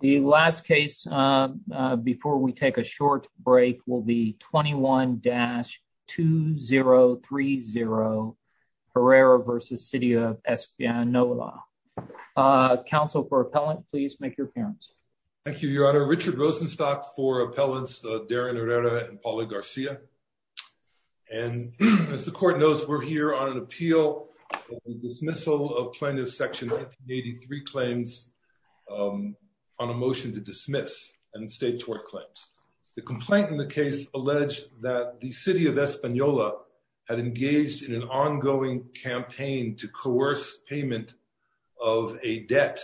The last case before we take a short break will be 21-2030 Herrera v. City of Espanola. Counsel for Appellant, please make your appearance. Thank you, Your Honor. Richard Rosenstock for Appellants Darren Herrera and Pauli Garcia. And as the Court knows, we're here on an appeal for the dismissal of Plaintiff's Section 1983 claims on a motion to dismiss and state tort claims. The complaint in the case alleged that the City of Espanola had engaged in an ongoing campaign to coerce payment of a debt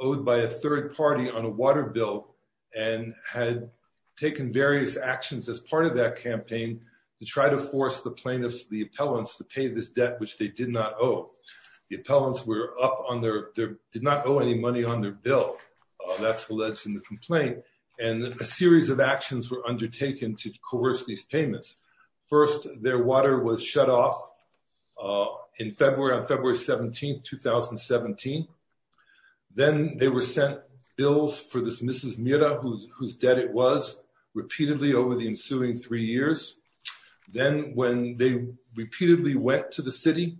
owed by a third party on a water bill and had taken various actions as part of that campaign to try to force the plaintiffs, the appellants, to pay this debt which they did not owe. The appellants did not owe any money on their bill. That's alleged in the complaint. And a series of actions were undertaken to coerce these payments. First, their water was shut off on February 17, 2017. Then they were sent bills for this Mrs. Mira, whose debt it was, repeatedly over the ensuing three years. Then when they repeatedly went to the City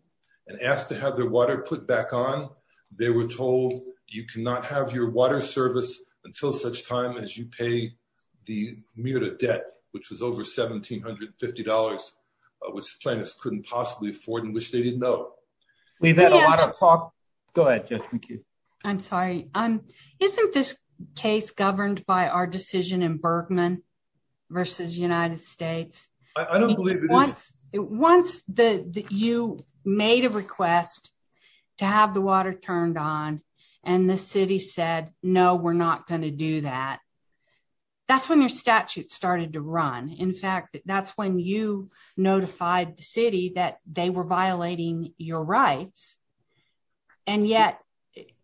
and asked to have their water put back on, they were told you cannot have your water service until such time as you pay the Mira debt, which was over $1,750, which plaintiffs couldn't possibly afford and which they didn't owe. We've had a lot of talk. Go ahead, Jessica. I'm sorry. Isn't this case governed by our decision in Bergman versus United States? I don't believe it Once you made a request to have the water turned on and the City said, no, we're not going to do that, that's when your statute started to run. In fact, that's when you notified the City that they were violating your rights. And yet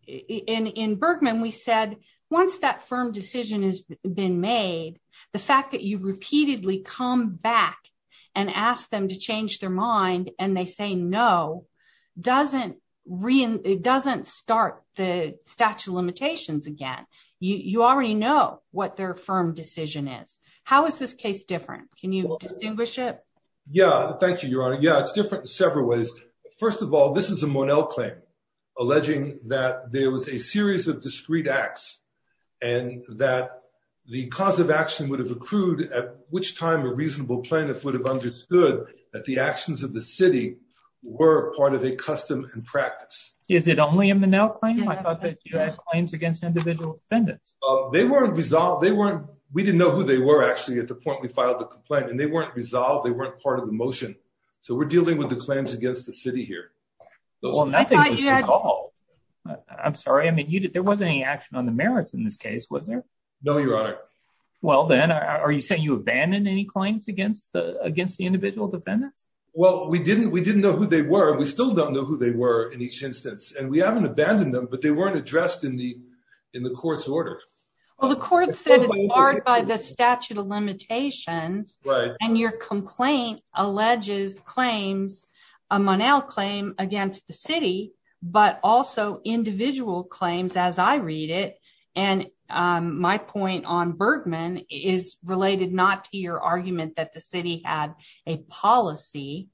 in Bergman, we said once that firm decision has been made, the fact that you repeatedly come back and ask them to change their mind and they say, no, doesn't start the statute of limitations again. You already know what their firm decision is. How is this case different? Can you distinguish it? Yeah, thank you, Your Honor. Yeah, it's different in several ways. First of all, this is a Monell claim alleging that there was a series of discrete acts and that the cause of action would have accrued at which time a reasonable plaintiff would have understood that the actions of the City were part of a custom and practice. Is it only a Monell claim? I thought that you had claims against individual defendants. They weren't resolved. We didn't know who they were actually at the point we filed the complaint and they weren't resolved. They weren't part of the motion. So we're dealing with the claims against the City here. I'm sorry. I mean, there wasn't any action on the merits in this case, was there? No, Your Honor. Well, then are you saying you abandoned any claims against the individual defendants? Well, we didn't know who they were. We still don't know who they were in each instance and we haven't abandoned them, but they weren't addressed in the court's order. Well, the court said it's barred by the statute of limitations and your complaint alleges claims, a Monell claim against the City, but also individual claims as I read it. And my point on Bergman is related not to your argument that the City had a policy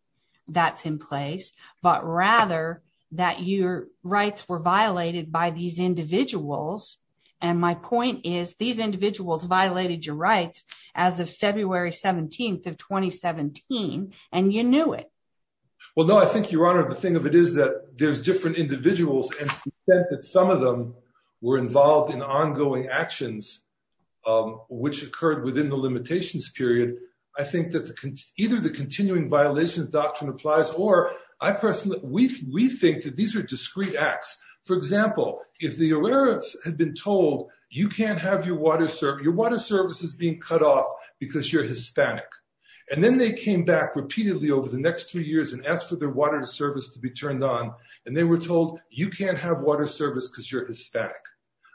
that's in place, but rather that your rights were violated by these individuals. And my point is these individuals violated your rights as of February 17th of 2017, and you knew it. Well, no, I think, Your Honor, the thing of it is that there's different individuals and the fact that some of them were involved in ongoing actions which occurred within the limitations period. I think that either the continuing violations doctrine applies or I personally, we think that these are discrete acts. For example, if the arrearance had been told you can't have your water service, your water service is being cut off because you're Hispanic, and then they came back repeatedly over the next three years and asked for their water service to be turned on and they were told you can't have water service because you're Hispanic.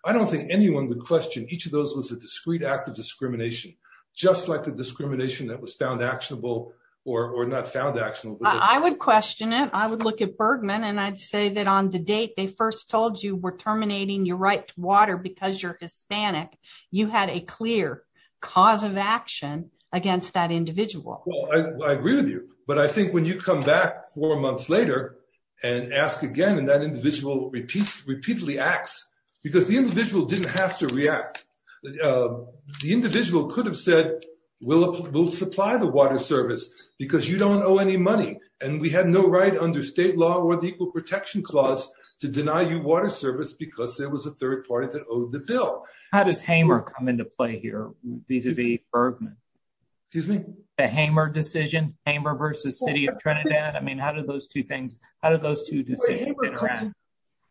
I don't think anyone would question each of those was a discrete act of discrimination, just like the discrimination that was found actionable or not found actionable. I would question it. I would look at Bergman and I'd say that on the date they first told you were terminating your right to water because you're Hispanic, you had a clear cause of action against that individual. Well, I agree with you, but I think when you come back four months later and ask again and that individual repeatedly acts because the individual didn't have to react. The individual could have said we'll supply the water service because you don't owe any money and we had no right under state law or the equal protection clause to deny you water service because there was a third party that owed the bill. How does Hamer come into play here vis-a-vis Bergman? Excuse me? The Hamer decision, Hamer versus City of Trinidad. I mean, how did those two things, how did those two decisions come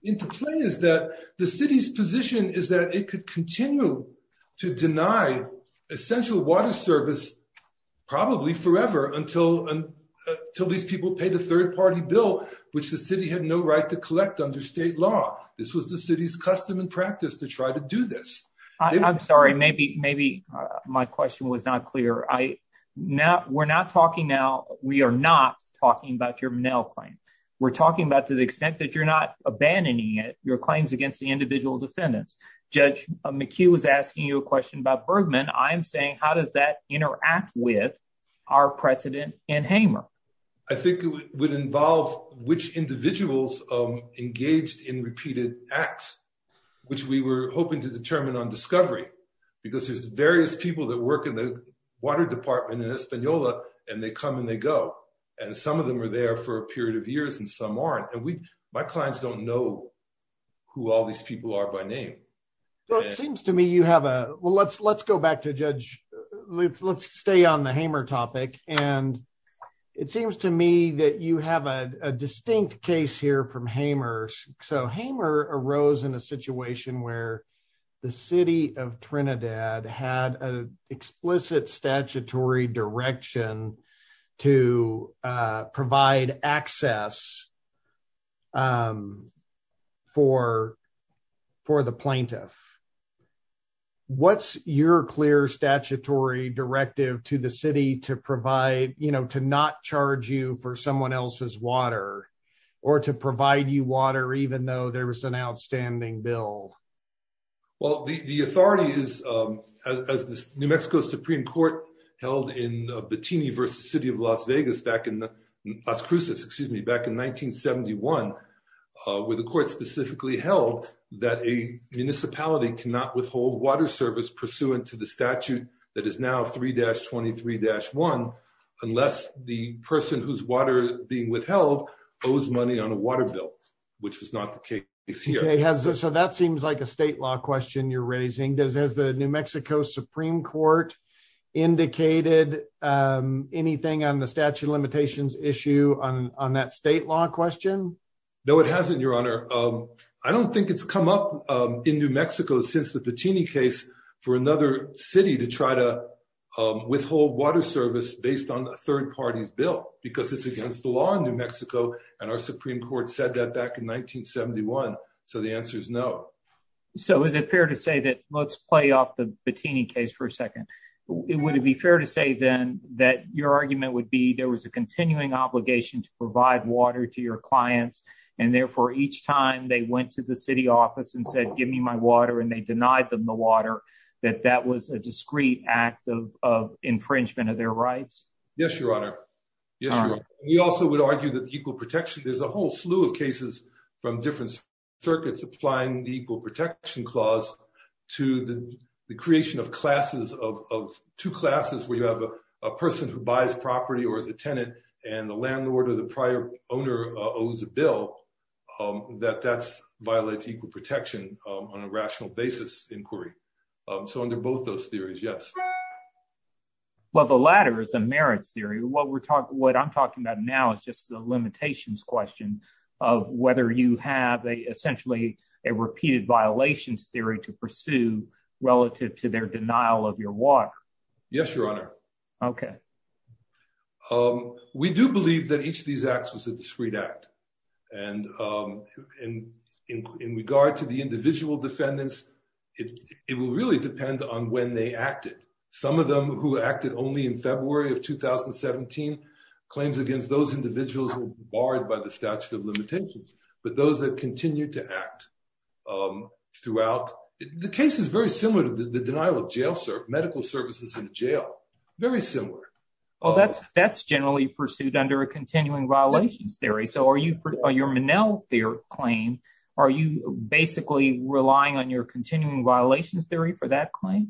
into play is that the city's position is that it could continue to deny essential water service probably forever until these people paid a third party bill, which the city had no right to collect under state law. This was the city's custom and practice to try to do this. I'm sorry, maybe my question was not clear. We're not talking now, we are not talking about your mail claim. We're not abandoning it, your claims against the individual defendants. Judge McHugh was asking you a question about Bergman. I'm saying how does that interact with our precedent in Hamer? I think it would involve which individuals engaged in repeated acts, which we were hoping to determine on discovery because there's various people that work in the water department in Española and they come and they go and some of them are there for a period of years and some aren't. My clients don't know who all these people are by name. Well, it seems to me you have a, well, let's go back to Judge, let's stay on the Hamer topic and it seems to me that you have a distinct case here from Hamer. So, Hamer arose in a situation where the City of Trinidad had an explicit statutory direction to provide access for the plaintiff. What's your clear statutory directive to the City to provide, you know, to not charge you for someone else's water or to provide you water even though there was an outstanding bill? Well, the authority is, as the New Mexico Supreme Court held in Batini versus City of Las Vegas back in the Las Cruces, excuse me, back in 1971 where the court specifically held that a municipality cannot withhold water service pursuant to the statute that is now 3-23-1 unless the person whose water being withheld owes money on a water bill, which was not the case here. So, that seems like a state law question you're raising. Has the New Mexico Supreme Court indicated anything on the statute of limitations issue on that state law question? No, it hasn't, Your Honor. I don't think it's come up in New Mexico since the Batini case for another city to try to withhold water service based on a third party's bill because it's against the law in New Mexico and our Supreme Court said that back in 1971. So, the answer is no. So, is it fair to say that, let's play off the Batini case for a second, it would it be fair to say then that your argument would be there was a continuing obligation to provide water to your clients and therefore each time they went to the City office and said give me my water and they denied them the water that that was a discreet act of infringement of their rights? Yes, Your Honor. We also would argue that the equal protection, there's a whole slew of cases from different circuits applying the equal protection clause to the creation of classes of two classes where you have a person who buys property or is a tenant and the landlord or the prior owner owes a bill that that's violates equal protection on a rational basis inquiry. So, under both those theories, yes. Well, the latter is a merits theory. What we're talking, what I'm talking about now is just the limitations question of whether you have a essentially a repeated violations theory to pursue relative to their denial of your water. Yes, Your Honor. Okay. We do believe that each of these acts was a discreet act and in regard to the individual defendants, it will really depend on when they acted. Some of them who acted only in February of 2017, claims against those individuals were barred by the statute of limitations, but those that continue to act throughout, the case is very similar to the denial of jail, medical services in jail, very similar. Well, that's generally pursued under a continuing violations theory. So, your Monell theory claim, are you basically relying on your continuing violations theory for that claim?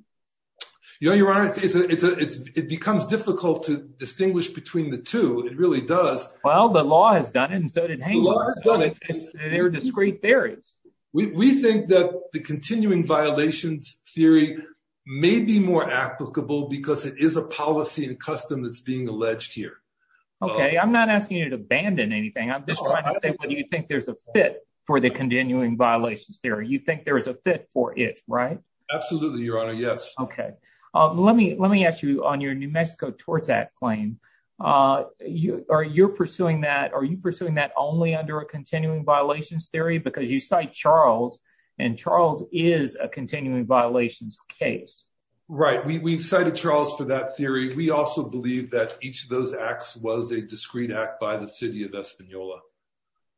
You know, Your Honor, it becomes difficult to distinguish between the two. It really does. Well, the law has done it and so did Hanger. They're discreet theories. We think that the continuing violations theory may be more applicable because it is a policy and custom that's being alleged here. Okay, I'm not asking you to abandon anything. I'm just trying to say, what do you think there's a fit for the continuing violations theory? You think there is a fit for it, right? Absolutely, Your Honor. Yes. Okay. Let me ask you on your New Mexico Tort Act claim, are you pursuing that only under a continuing violations theory because you cite Charles and Charles is a continuing violations case? Right. We've cited Charles for that theory. We also believe that each of those acts was a discreet act by the city of Española.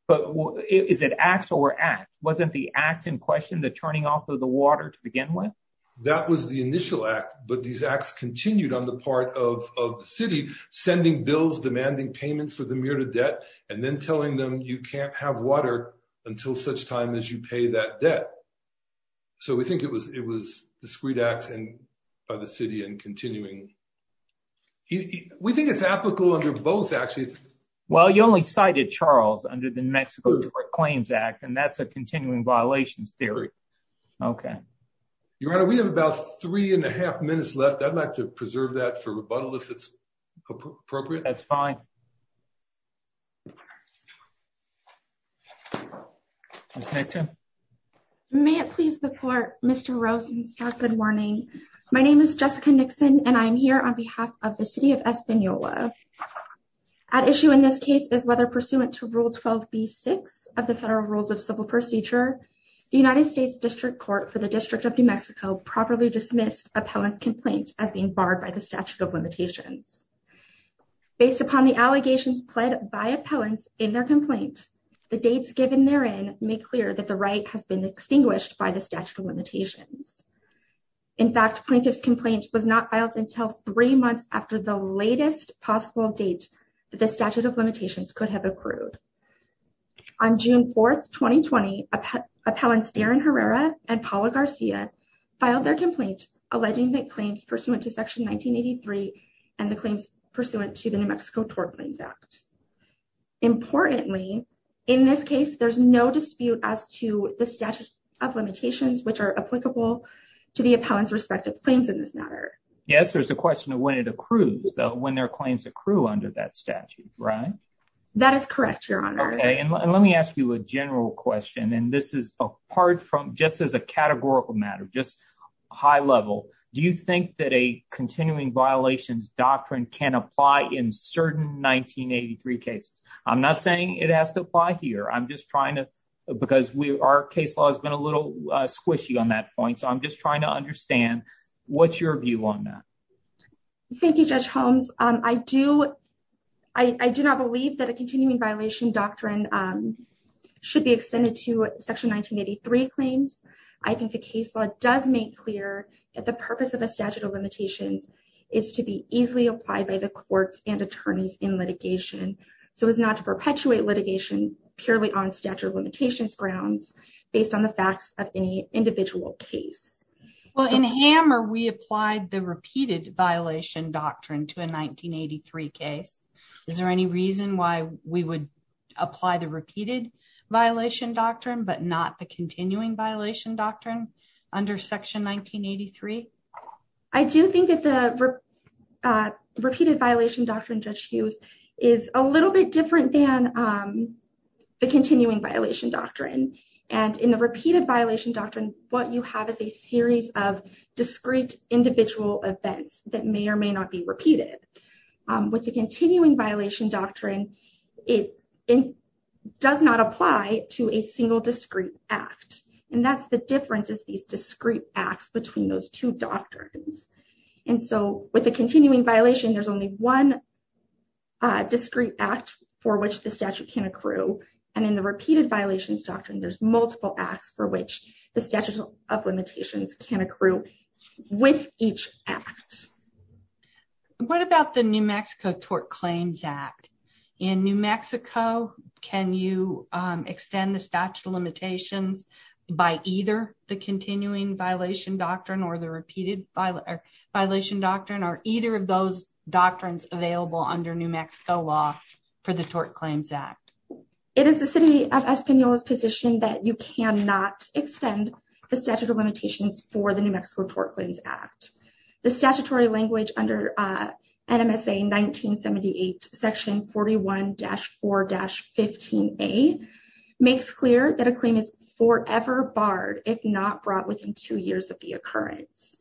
But is it acts or act? Wasn't the act in question, the turning off of the water to begin with? That was the initial act, but these acts continued on the part of the city, sending bills, demanding payment for the myriad debt, and then telling them you can't have water until such time as you pay that debt. So we think it was discreet acts by the city and continuing. We think it's applicable under both actually. Well, you only cited Charles under the New Mexico Tort Claims Act, and that's a continuing violations theory. Okay. Your Honor, we have about three and a half minutes left. I'd like to preserve that for rebuttal if it's appropriate. That's fine. May it please the Court, Mr. Rosenstock, good morning. My name is Jessica Nixon, and I'm here on behalf of the city of Española. At issue in this case is whether pursuant to Rule 12b-6 of the Federal Rules of Civil Procedure, the United States District Court for the District of New Mexico properly dismissed appellant's complaint as being barred by the statute of limitations. Based upon the allegations pled by appellants in their complaint, the dates given therein make clear that the right has been extinguished by the statute of limitations. In fact, plaintiff's complaint was not filed until three months after the latest possible date that the statute of limitations could have accrued. On June 4, 2020, appellants Darren Herrera and Paula Garcia filed their complaint alleging that claims pursuant to Section 1983 and the claims pursuant to the New Mexico Tort Claims Act. Importantly, in this case, there's no dispute as to the statute of limitations which are applicable to the appellant's respective claims in this matter. Yes, there's a question of when it accrues, though, when their claims accrue under that statute, right? That is correct, Your Honor. Okay, and let me ask you a general question, and this is apart from just as a categorical matter, just high level. Do you think that a continuing violations doctrine can apply in certain 1983 cases? I'm not saying it has to apply here. I'm just trying to, because we, our case law has been a little squishy on that point, so I'm just trying to understand what's your view on that. Thank you, Should be extended to Section 1983 claims. I think the case law does make clear that the purpose of a statute of limitations is to be easily applied by the courts and attorneys in litigation, so as not to perpetuate litigation purely on statute of limitations grounds based on the facts of any individual case. Well, in Hammer, we applied the repeated violation doctrine to a 1983 case. Is there any reason why we would apply the repeated violation doctrine but not the continuing violation doctrine under Section 1983? I do think that the repeated violation doctrine, Judge Hughes, is a little bit different than the continuing violation doctrine, and in the repeated violation doctrine, what you have is a series of discrete individual events that may or may not occur. So, with the continuing violation doctrine, it does not apply to a single discrete act, and that's the difference is these discrete acts between those two doctrines. And so, with the continuing violation, there's only one discrete act for which the statute can accrue, and in the repeated violations doctrine, there's multiple acts for which the statute of limitations can accrue with each act. What about the New Mexico Tort Claims Act? In New Mexico, can you extend the statute of limitations by either the continuing violation doctrine or the repeated violation doctrine, or either of those doctrines available under New Mexico law for the Tort Claims Act? It is the City of Española's position that you cannot extend the statute of limitations for the New Mexico Tort Claims Act. The statutory language under NMSA 1978 section 41-4-15a makes clear that a claim is forever barred if not brought within two years of the occurrence.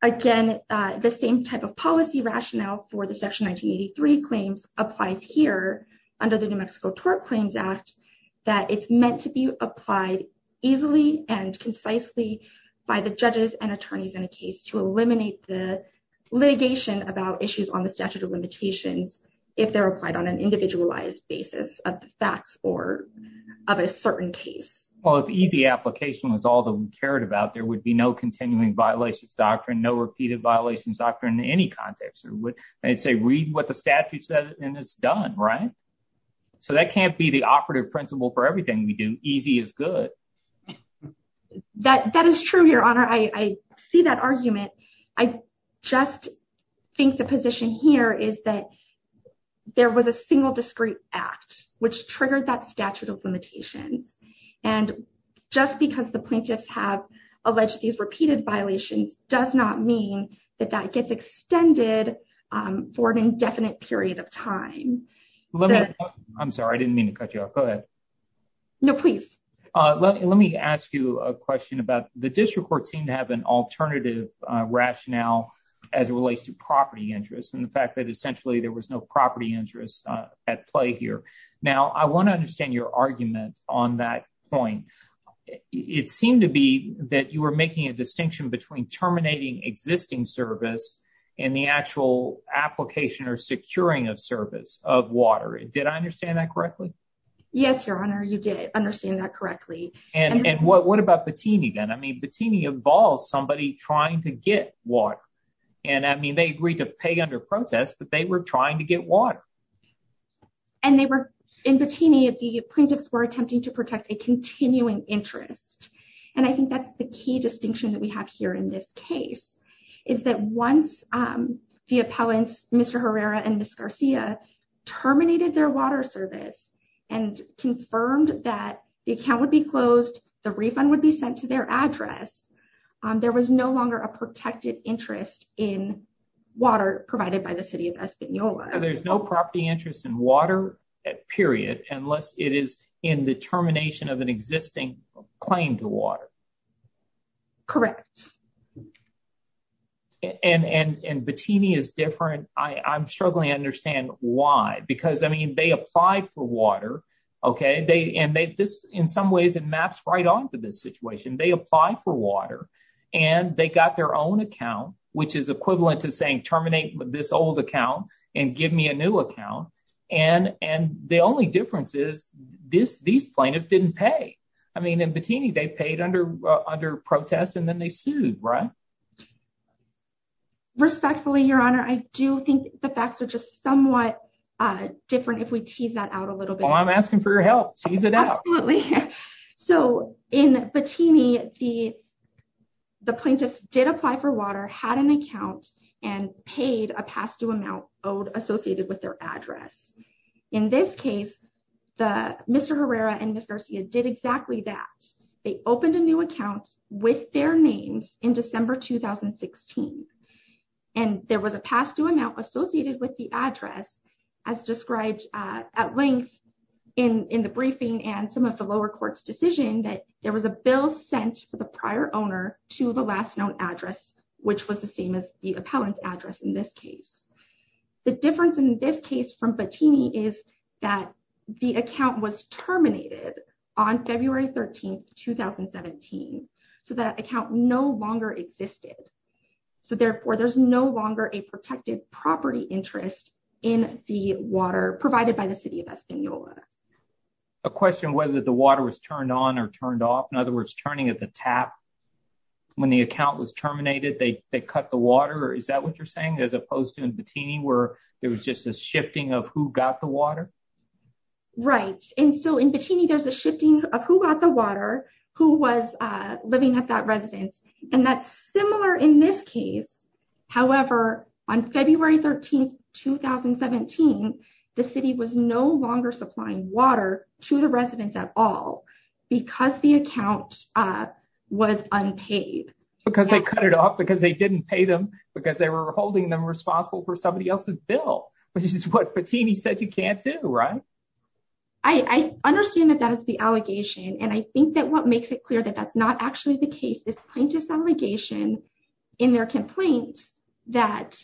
Again, the same type of policy rationale for the section 1983 claims applies here under the New limitations can accrue with each act. What about the statute of limitations for judges and attorneys in a case to eliminate the litigation about issues on the statute of limitations if they're applied on an individualized basis of the facts of a certain case? Well, if easy application was all that we cared about, there would be no continuing violations doctrine, no repeated violations doctrine in any context. I'd say read what the statute says and it's done, right? So that can't be the operative principle for everything we do. Easy is good. That is true, Your Honor. I see that argument. I just think the position here is that there was a single discreet act which triggered that statute of limitations. And just because the plaintiffs have alleged these repeated violations does not mean that that gets extended for an indefinite period of time. I'm sorry, I didn't mean to cut you off. Go ahead. No, please. Let me ask you a question about the district court seemed to have an alternative rationale as it relates to property interest and the fact that essentially there was no property interest at play here. Now, I want to understand your argument on that point. It seemed to be that you were making a distinction between terminating existing service and the actual application or securing of service of water. Did I understand that correctly? Yes, Your Honor, you did understand that correctly. And what about Patini then? I mean, Patini involved somebody trying to get water. And I mean, they agreed to pay under protest, but they were trying to get water. And they were in Patini, the plaintiffs were attempting to protect a continuing interest. And I think that's the key distinction that we have here in this case, is that once the appellants, Mr. Herrera and Ms. Garcia terminated their water service and confirmed that the account would be closed, the refund would be sent to their address, there was no longer a protected interest in water provided by the city of Española. There's no property interest in water, period, unless it is in the termination of an existing claim to water. Correct. And Patini is different. I'm struggling to understand why. Because I mean, they applied for water. Okay, they and they this, in some ways, it maps right on to this situation, they apply for water, and they got their own account, which is equivalent to saying terminate this old account, and give me a new account. And and the only difference is this, these plaintiffs didn't pay. I mean, in Patini, they paid under under protests, and then they sued, right? Respectfully, Your Honor, I do think the facts are just somewhat different. If we tease that out a little bit. I'm asking for your help, tease it out. Absolutely. So in Patini, the the plaintiffs did apply for water, had an account, and paid a pass to amount owed associated with their address. In this case, the Mr. Herrera and Ms. Garcia did exactly that. They opened a new account with their 2016. And there was a pass to amount associated with the address, as described at length, in the briefing and some of the lower courts decision that there was a bill sent for the prior owner to the last known address, which was the same as the appellant's address in this case. The difference in this case from Patini is that the account was terminated on February 13, 2017. So that account no longer existed. So therefore, there's no longer a protected property interest in the water provided by the City of Española. A question whether the water was turned on or turned off. In other words, turning at the tap when the account was terminated, they cut the water. Is that what you're saying? As opposed to in Patini, where it was just a shifting of who got the water, who was living at that residence. And that's similar in this case. However, on February 13, 2017, the City was no longer supplying water to the residents at all, because the account was unpaid. Because they cut it off, because they didn't pay them, because they were holding them responsible for somebody else's bill, which is what Patini said can't do, right? I understand that that is the allegation. And I think that what makes it clear that that's not actually the case is plaintiff's allegation in their complaint that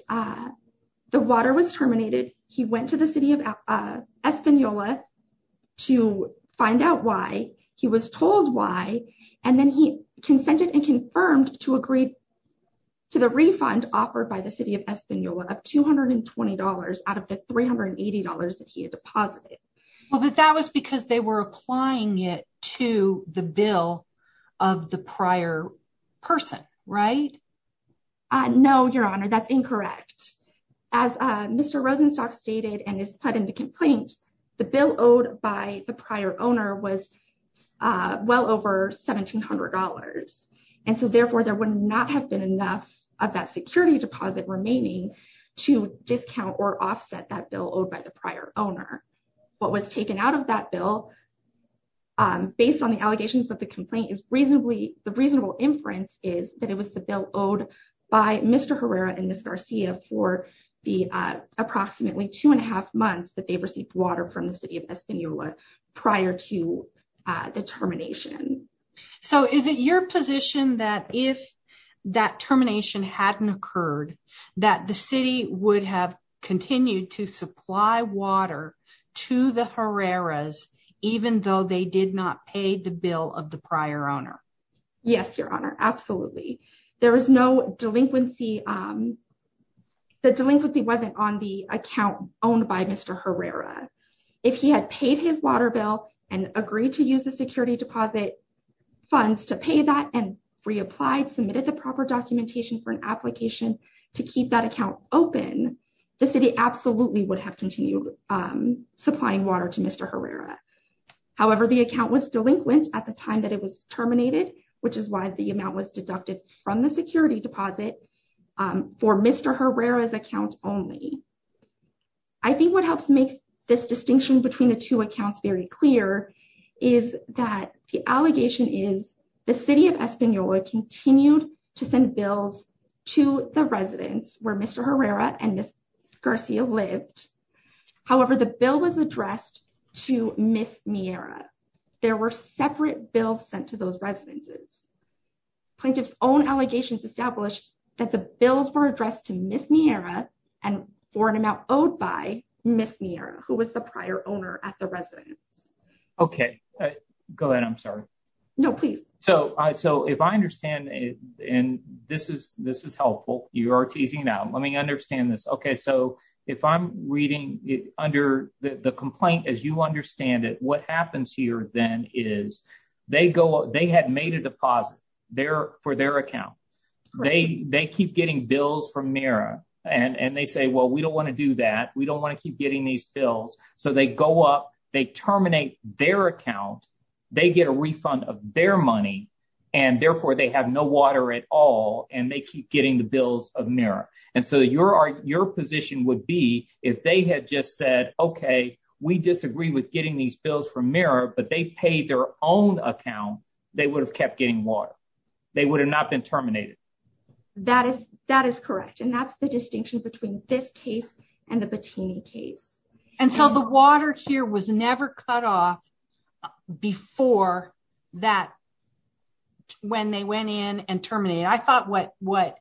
the water was terminated. He went to the City of Española to find out why. He was told why. And then he consented and confirmed to agree to the refund offered by the City of Española of $220 out of the $380 that he had deposited. Well, but that was because they were applying it to the bill of the prior person, right? No, Your Honor, that's incorrect. As Mr. Rosenstock stated and is put in the complaint, the bill owed by the prior owner was well over $1,700. And so therefore, there would not have been enough of that security deposit remaining to discount or offset that bill owed by the prior owner. What was taken out of that bill, based on the allegations that the complaint is reasonably, the reasonable inference is that it was the bill owed by Mr. Herrera and Ms. Garcia for the approximately two and a half months that they received water from the City of that termination hadn't occurred, that the City would have continued to supply water to the Herreras, even though they did not pay the bill of the prior owner. Yes, Your Honor, absolutely. There was no delinquency. The delinquency wasn't on the account owned by Mr. Herrera. If he had paid his water bill and agreed to use the security deposit funds to pay that and reapplied, submitted the proper documentation for an application to keep that account open, the City absolutely would have continued supplying water to Mr. Herrera. However, the account was delinquent at the time that it was terminated, which is why the amount was deducted from the security deposit for Mr. Herrera's account only. I think what helps make this clear is that the City would have continued to send bills to the residence where Mr. Herrera and Ms. Garcia lived. However, the bill was addressed to Ms. Miera. There were separate bills sent to those residences. Plaintiff's own allegations establish that the bills were addressed to Ms. Miera and for an amount owed by Ms. Miera, who was the prior owner at the residence. Okay. Go ahead. I'm sorry. No, please. So if I understand, and this is helpful, you are teasing now. Let me understand this. Okay. So if I'm reading under the complaint as you understand it, what happens here then is they had made a deposit for their account. They keep getting bills from Miera and they say, well, we don't want to do that. We don't want to keep getting these bills. So they go up, they terminate their account, they get a refund of their money, and therefore they have no water at all and they keep getting the bills of Miera. And so your position would be if they had just said, okay, we disagree with getting these bills from Miera, but they paid their own account, they would have kept getting water. They would have not been terminated. That is correct. And that's the distinction between this case and the Bettini case. And so the water here was never cut off before that when they went in and terminated. I thought what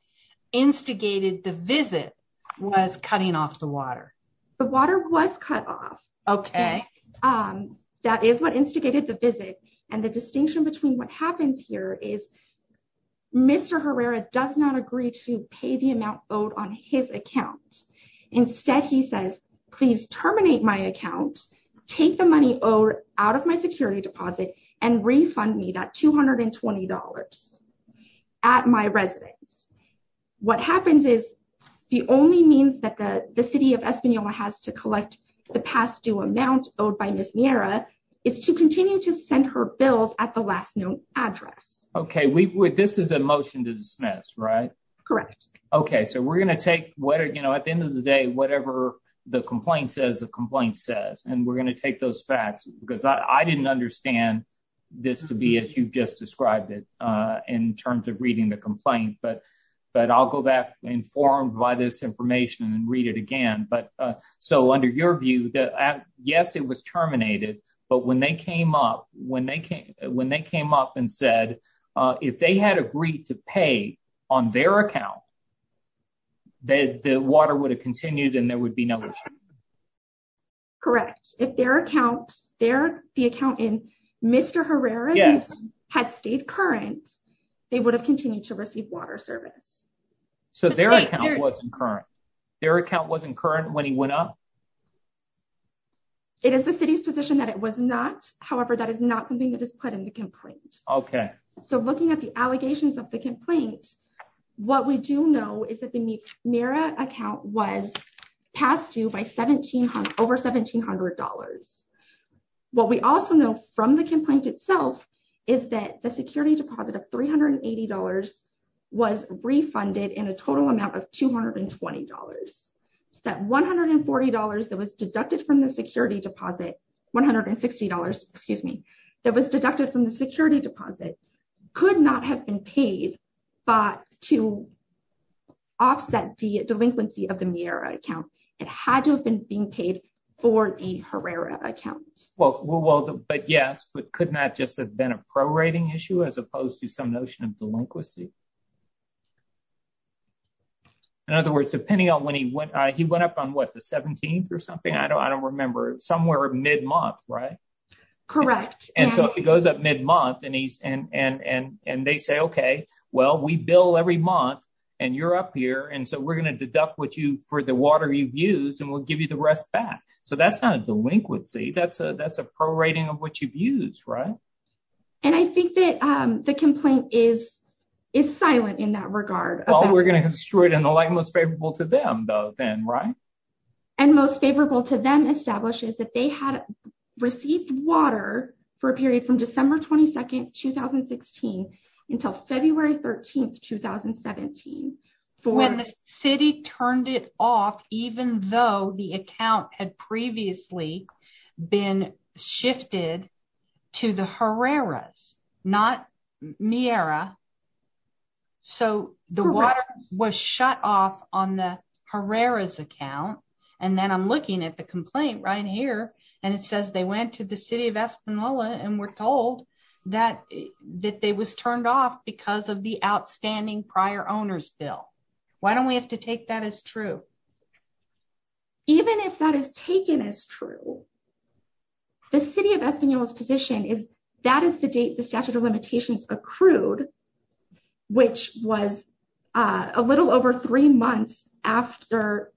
instigated the visit was cutting off the water. The water was cut off. Okay. That is what instigated the visit. And the distinction between what happens here is Mr. Herrera does not agree to pay the amount owed on his account. Instead he says, please terminate my account, take the money owed out of my security deposit, and refund me that $220 at my residence. What happens is the only means that the city of Espanola has to collect the past due amount owed by Ms. Miera is to continue to send her bills at the last known address. Okay. This is a motion to dismiss, right? Correct. Okay. So we're going to take at the end of the day, whatever the complaint says, the complaint says. And we're going to take those facts because I didn't understand this to be as you've just described it in terms of reading the complaint. But I'll go back informed by this information and read it again. So under your view, yes, it was terminated. But when they came up and said if they had agreed to pay on their account, the water would have continued and there would be no issue. Correct. If their account, the account in Mr. Herrera's had stayed current, they would have continued to receive water service. So their account wasn't current? Their account wasn't current when he went up? It is the city's position that it was not. However, that is not something that is put in the complaint. Okay. So looking at the allegations of the complaint, what we do know is that the Miera account was passed you by over $1,700. What we also know from the complaint itself is that the security deposit of $380 was refunded in a total amount of $220. That $140 that was deducted from the security deposit, $160, excuse me, that was deducted from the security deposit could not have been paid, but to offset the delinquency of the Miera account, it had to have been being paid for the Herrera account. Well, but yes, but could not just have been a prorating issue as opposed to some notion of delinquency? In other words, depending on when he went, he went up on what, the 17th or something? I don't remember, somewhere mid-month, right? Correct. And so if he goes up mid-month and they say, okay, well, we bill every month and you're up here. And so we're going to deduct what you for the water you've used and we'll give you the rest back. So that's not a delinquency. That's a prorating of what you've used, right? And I think that the complaint is silent in that regard. We're going to construe it in the light most favorable to them though then, right? And most favorable to them establishes that they had received water for a period from December 22nd, 2016 until February 13th, 2017. When the city turned it off, even though the account had previously been shifted to the Herrera's, not Miera. So the water was shut off on the Herrera's account. And then I'm looking at the complaint right here and it says they went to the city of Espanola and were told that they was turned off because of the outstanding prior owner's bill. Why don't we have to take that as true? Even if that is taken as true, the city of Espanola's position is that is the date the statute of limitations accrued, which was a little over three months after.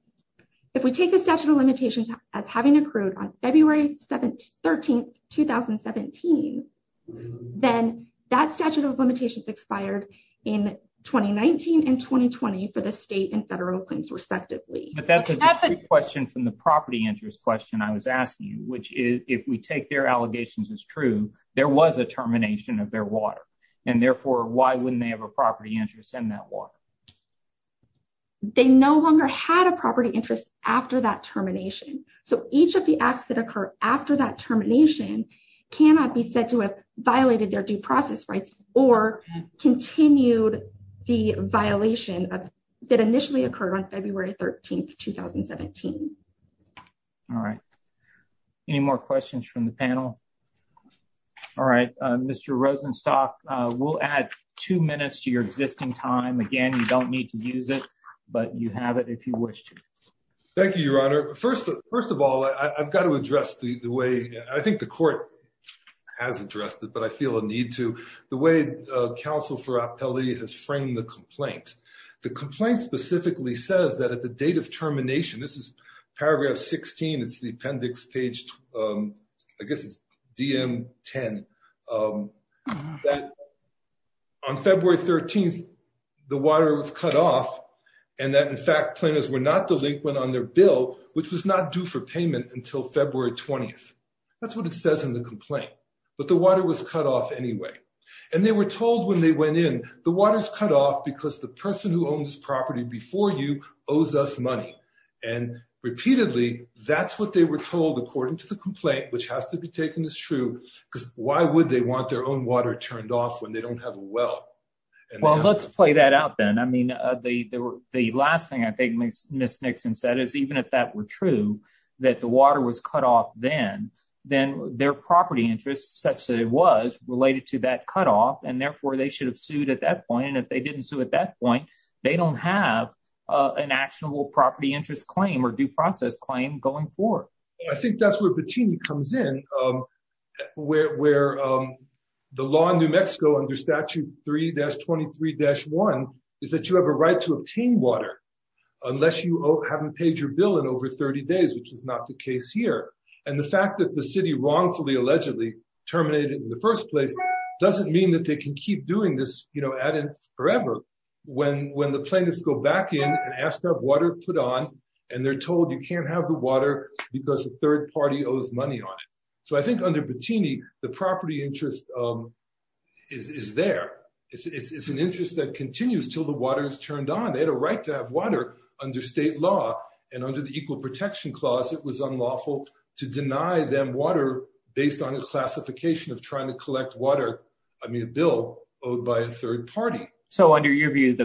If we take the statute of limitations as having accrued on February 13th, 2017, then that statute of limitations expired in 2019 and 2020 for the state and federal claims respectively. But that's a question from the property interest question I was asking you, which is if we take their allegations as true, there was a termination of their water. And therefore, why wouldn't they have a property interest in that water? They no longer had a property interest after that termination. So each of the acts that occur after that termination cannot be said to have violated their due process rights or continued the violation that initially occurred on February 13th, 2017. All right. Any more questions from the public? I don't need to use it, but you have it if you wish to. Thank you, Your Honor. First of all, I've got to address the way, I think the court has addressed it, but I feel a need to, the way counsel Ferrappelli has framed the complaint. The complaint specifically says that at the date of termination, this is paragraph 16, it's the appendix page, I guess it's DM 10, that on February 13th, 2017, the water was cut off and that in fact, plaintiffs were not delinquent on their bill, which was not due for payment until February 20th. That's what it says in the complaint. But the water was cut off anyway. And they were told when they went in, the water's cut off because the person who owned this property before you owes us money. And repeatedly, that's what they were told according to the complaint, which has to be taken as true, because why would they want their own water turned off when they don't have a well? Well, let's play that out then. I mean, the last thing I think Ms. Nixon said is even if that were true, that the water was cut off then, then their property interest such that it was related to that cut off, and therefore they should have sued at that point. And if they didn't sue at that point, they don't have an actionable property interest claim or due process claim going forward. I think that's where Patini comes in, where the law in New Mexico under Statute 3-23-1 is that you have a right to obtain water, unless you haven't paid your bill in over 30 days, which is not the case here. And the fact that the city wrongfully allegedly terminated in the first place doesn't mean that they can keep doing this, you know, forever. When the plaintiffs go back in and ask to have water put on, and they're told you can't have the water because the third party owes money on it. So I think under Patini, the property interest is there. It's an interest that continues till the water is turned on. They had a right to have water under state law, and under the Equal Protection Clause, it was unlawful to deny them water based on a classification of trying to collect water, I mean, a bill owed by a third party. So under your view,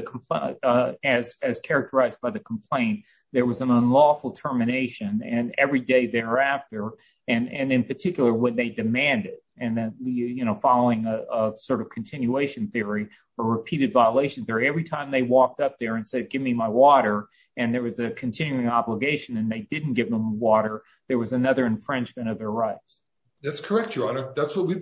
as characterized by the complaint, there was an unlawful termination, and every day thereafter, and in particular, when they demanded, and then, you know, following a sort of continuation theory, or repeated violation theory, every time they walked up there and said, give me my water, and there was a continuing obligation, and they didn't give them water, there was another infringement of their rights. That's correct, Your Honor. That's what we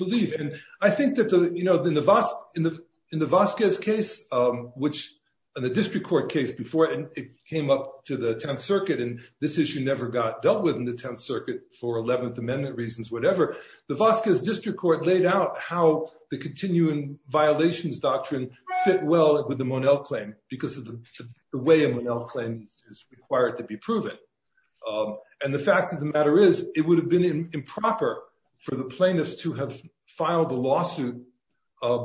which, in the district court case, before it came up to the 10th Circuit, and this issue never got dealt with in the 10th Circuit, for 11th Amendment reasons, whatever, the Vasquez District Court laid out how the continuing violations doctrine fit well with the Monell claim, because of the way a Monell claim is required to be proven. And the fact of the matter is, it would have been improper for the plaintiffs to have filed a lawsuit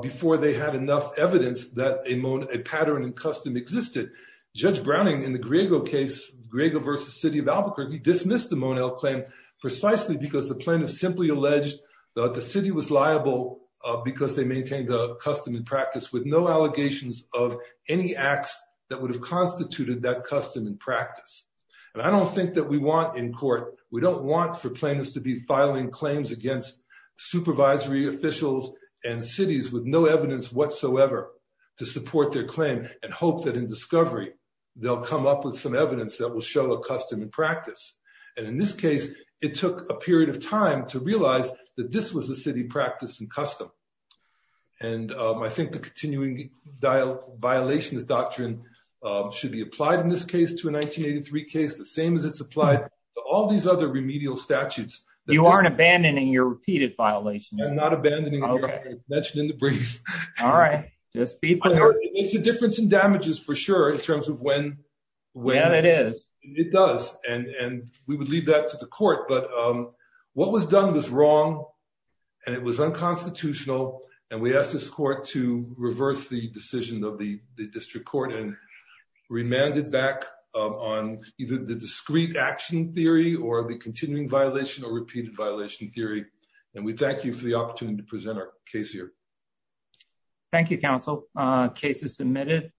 before they had enough evidence that a Monell, a pattern and custom existed. Judge Browning, in the Griego case, Griego versus City of Albuquerque, dismissed the Monell claim precisely because the plaintiff simply alleged that the city was liable because they maintained the custom and practice, with no allegations of any acts that would have constituted that custom and practice. And I don't think that we want, in court, we don't want for against supervisory officials and cities with no evidence whatsoever to support their claim and hope that in discovery, they'll come up with some evidence that will show a custom and practice. And in this case, it took a period of time to realize that this was a city practice and custom. And I think the continuing violations doctrine should be applied in this case to a 1983 case, the same as it's applied to all these other remedial statutes. You aren't abandoning your repeated violations? I'm not abandoning. I mentioned in the brief. All right. It's a difference in damages, for sure, in terms of when it is. It does. And we would leave that to the court. But what was done was wrong, and it was unconstitutional. And we asked this court to reverse the decision of the district court and remanded back on either the discrete action theory or the continuing violation or repeated violation theory. And we thank you for the opportunity to present our case here. Thank you, counsel. Case is submitted.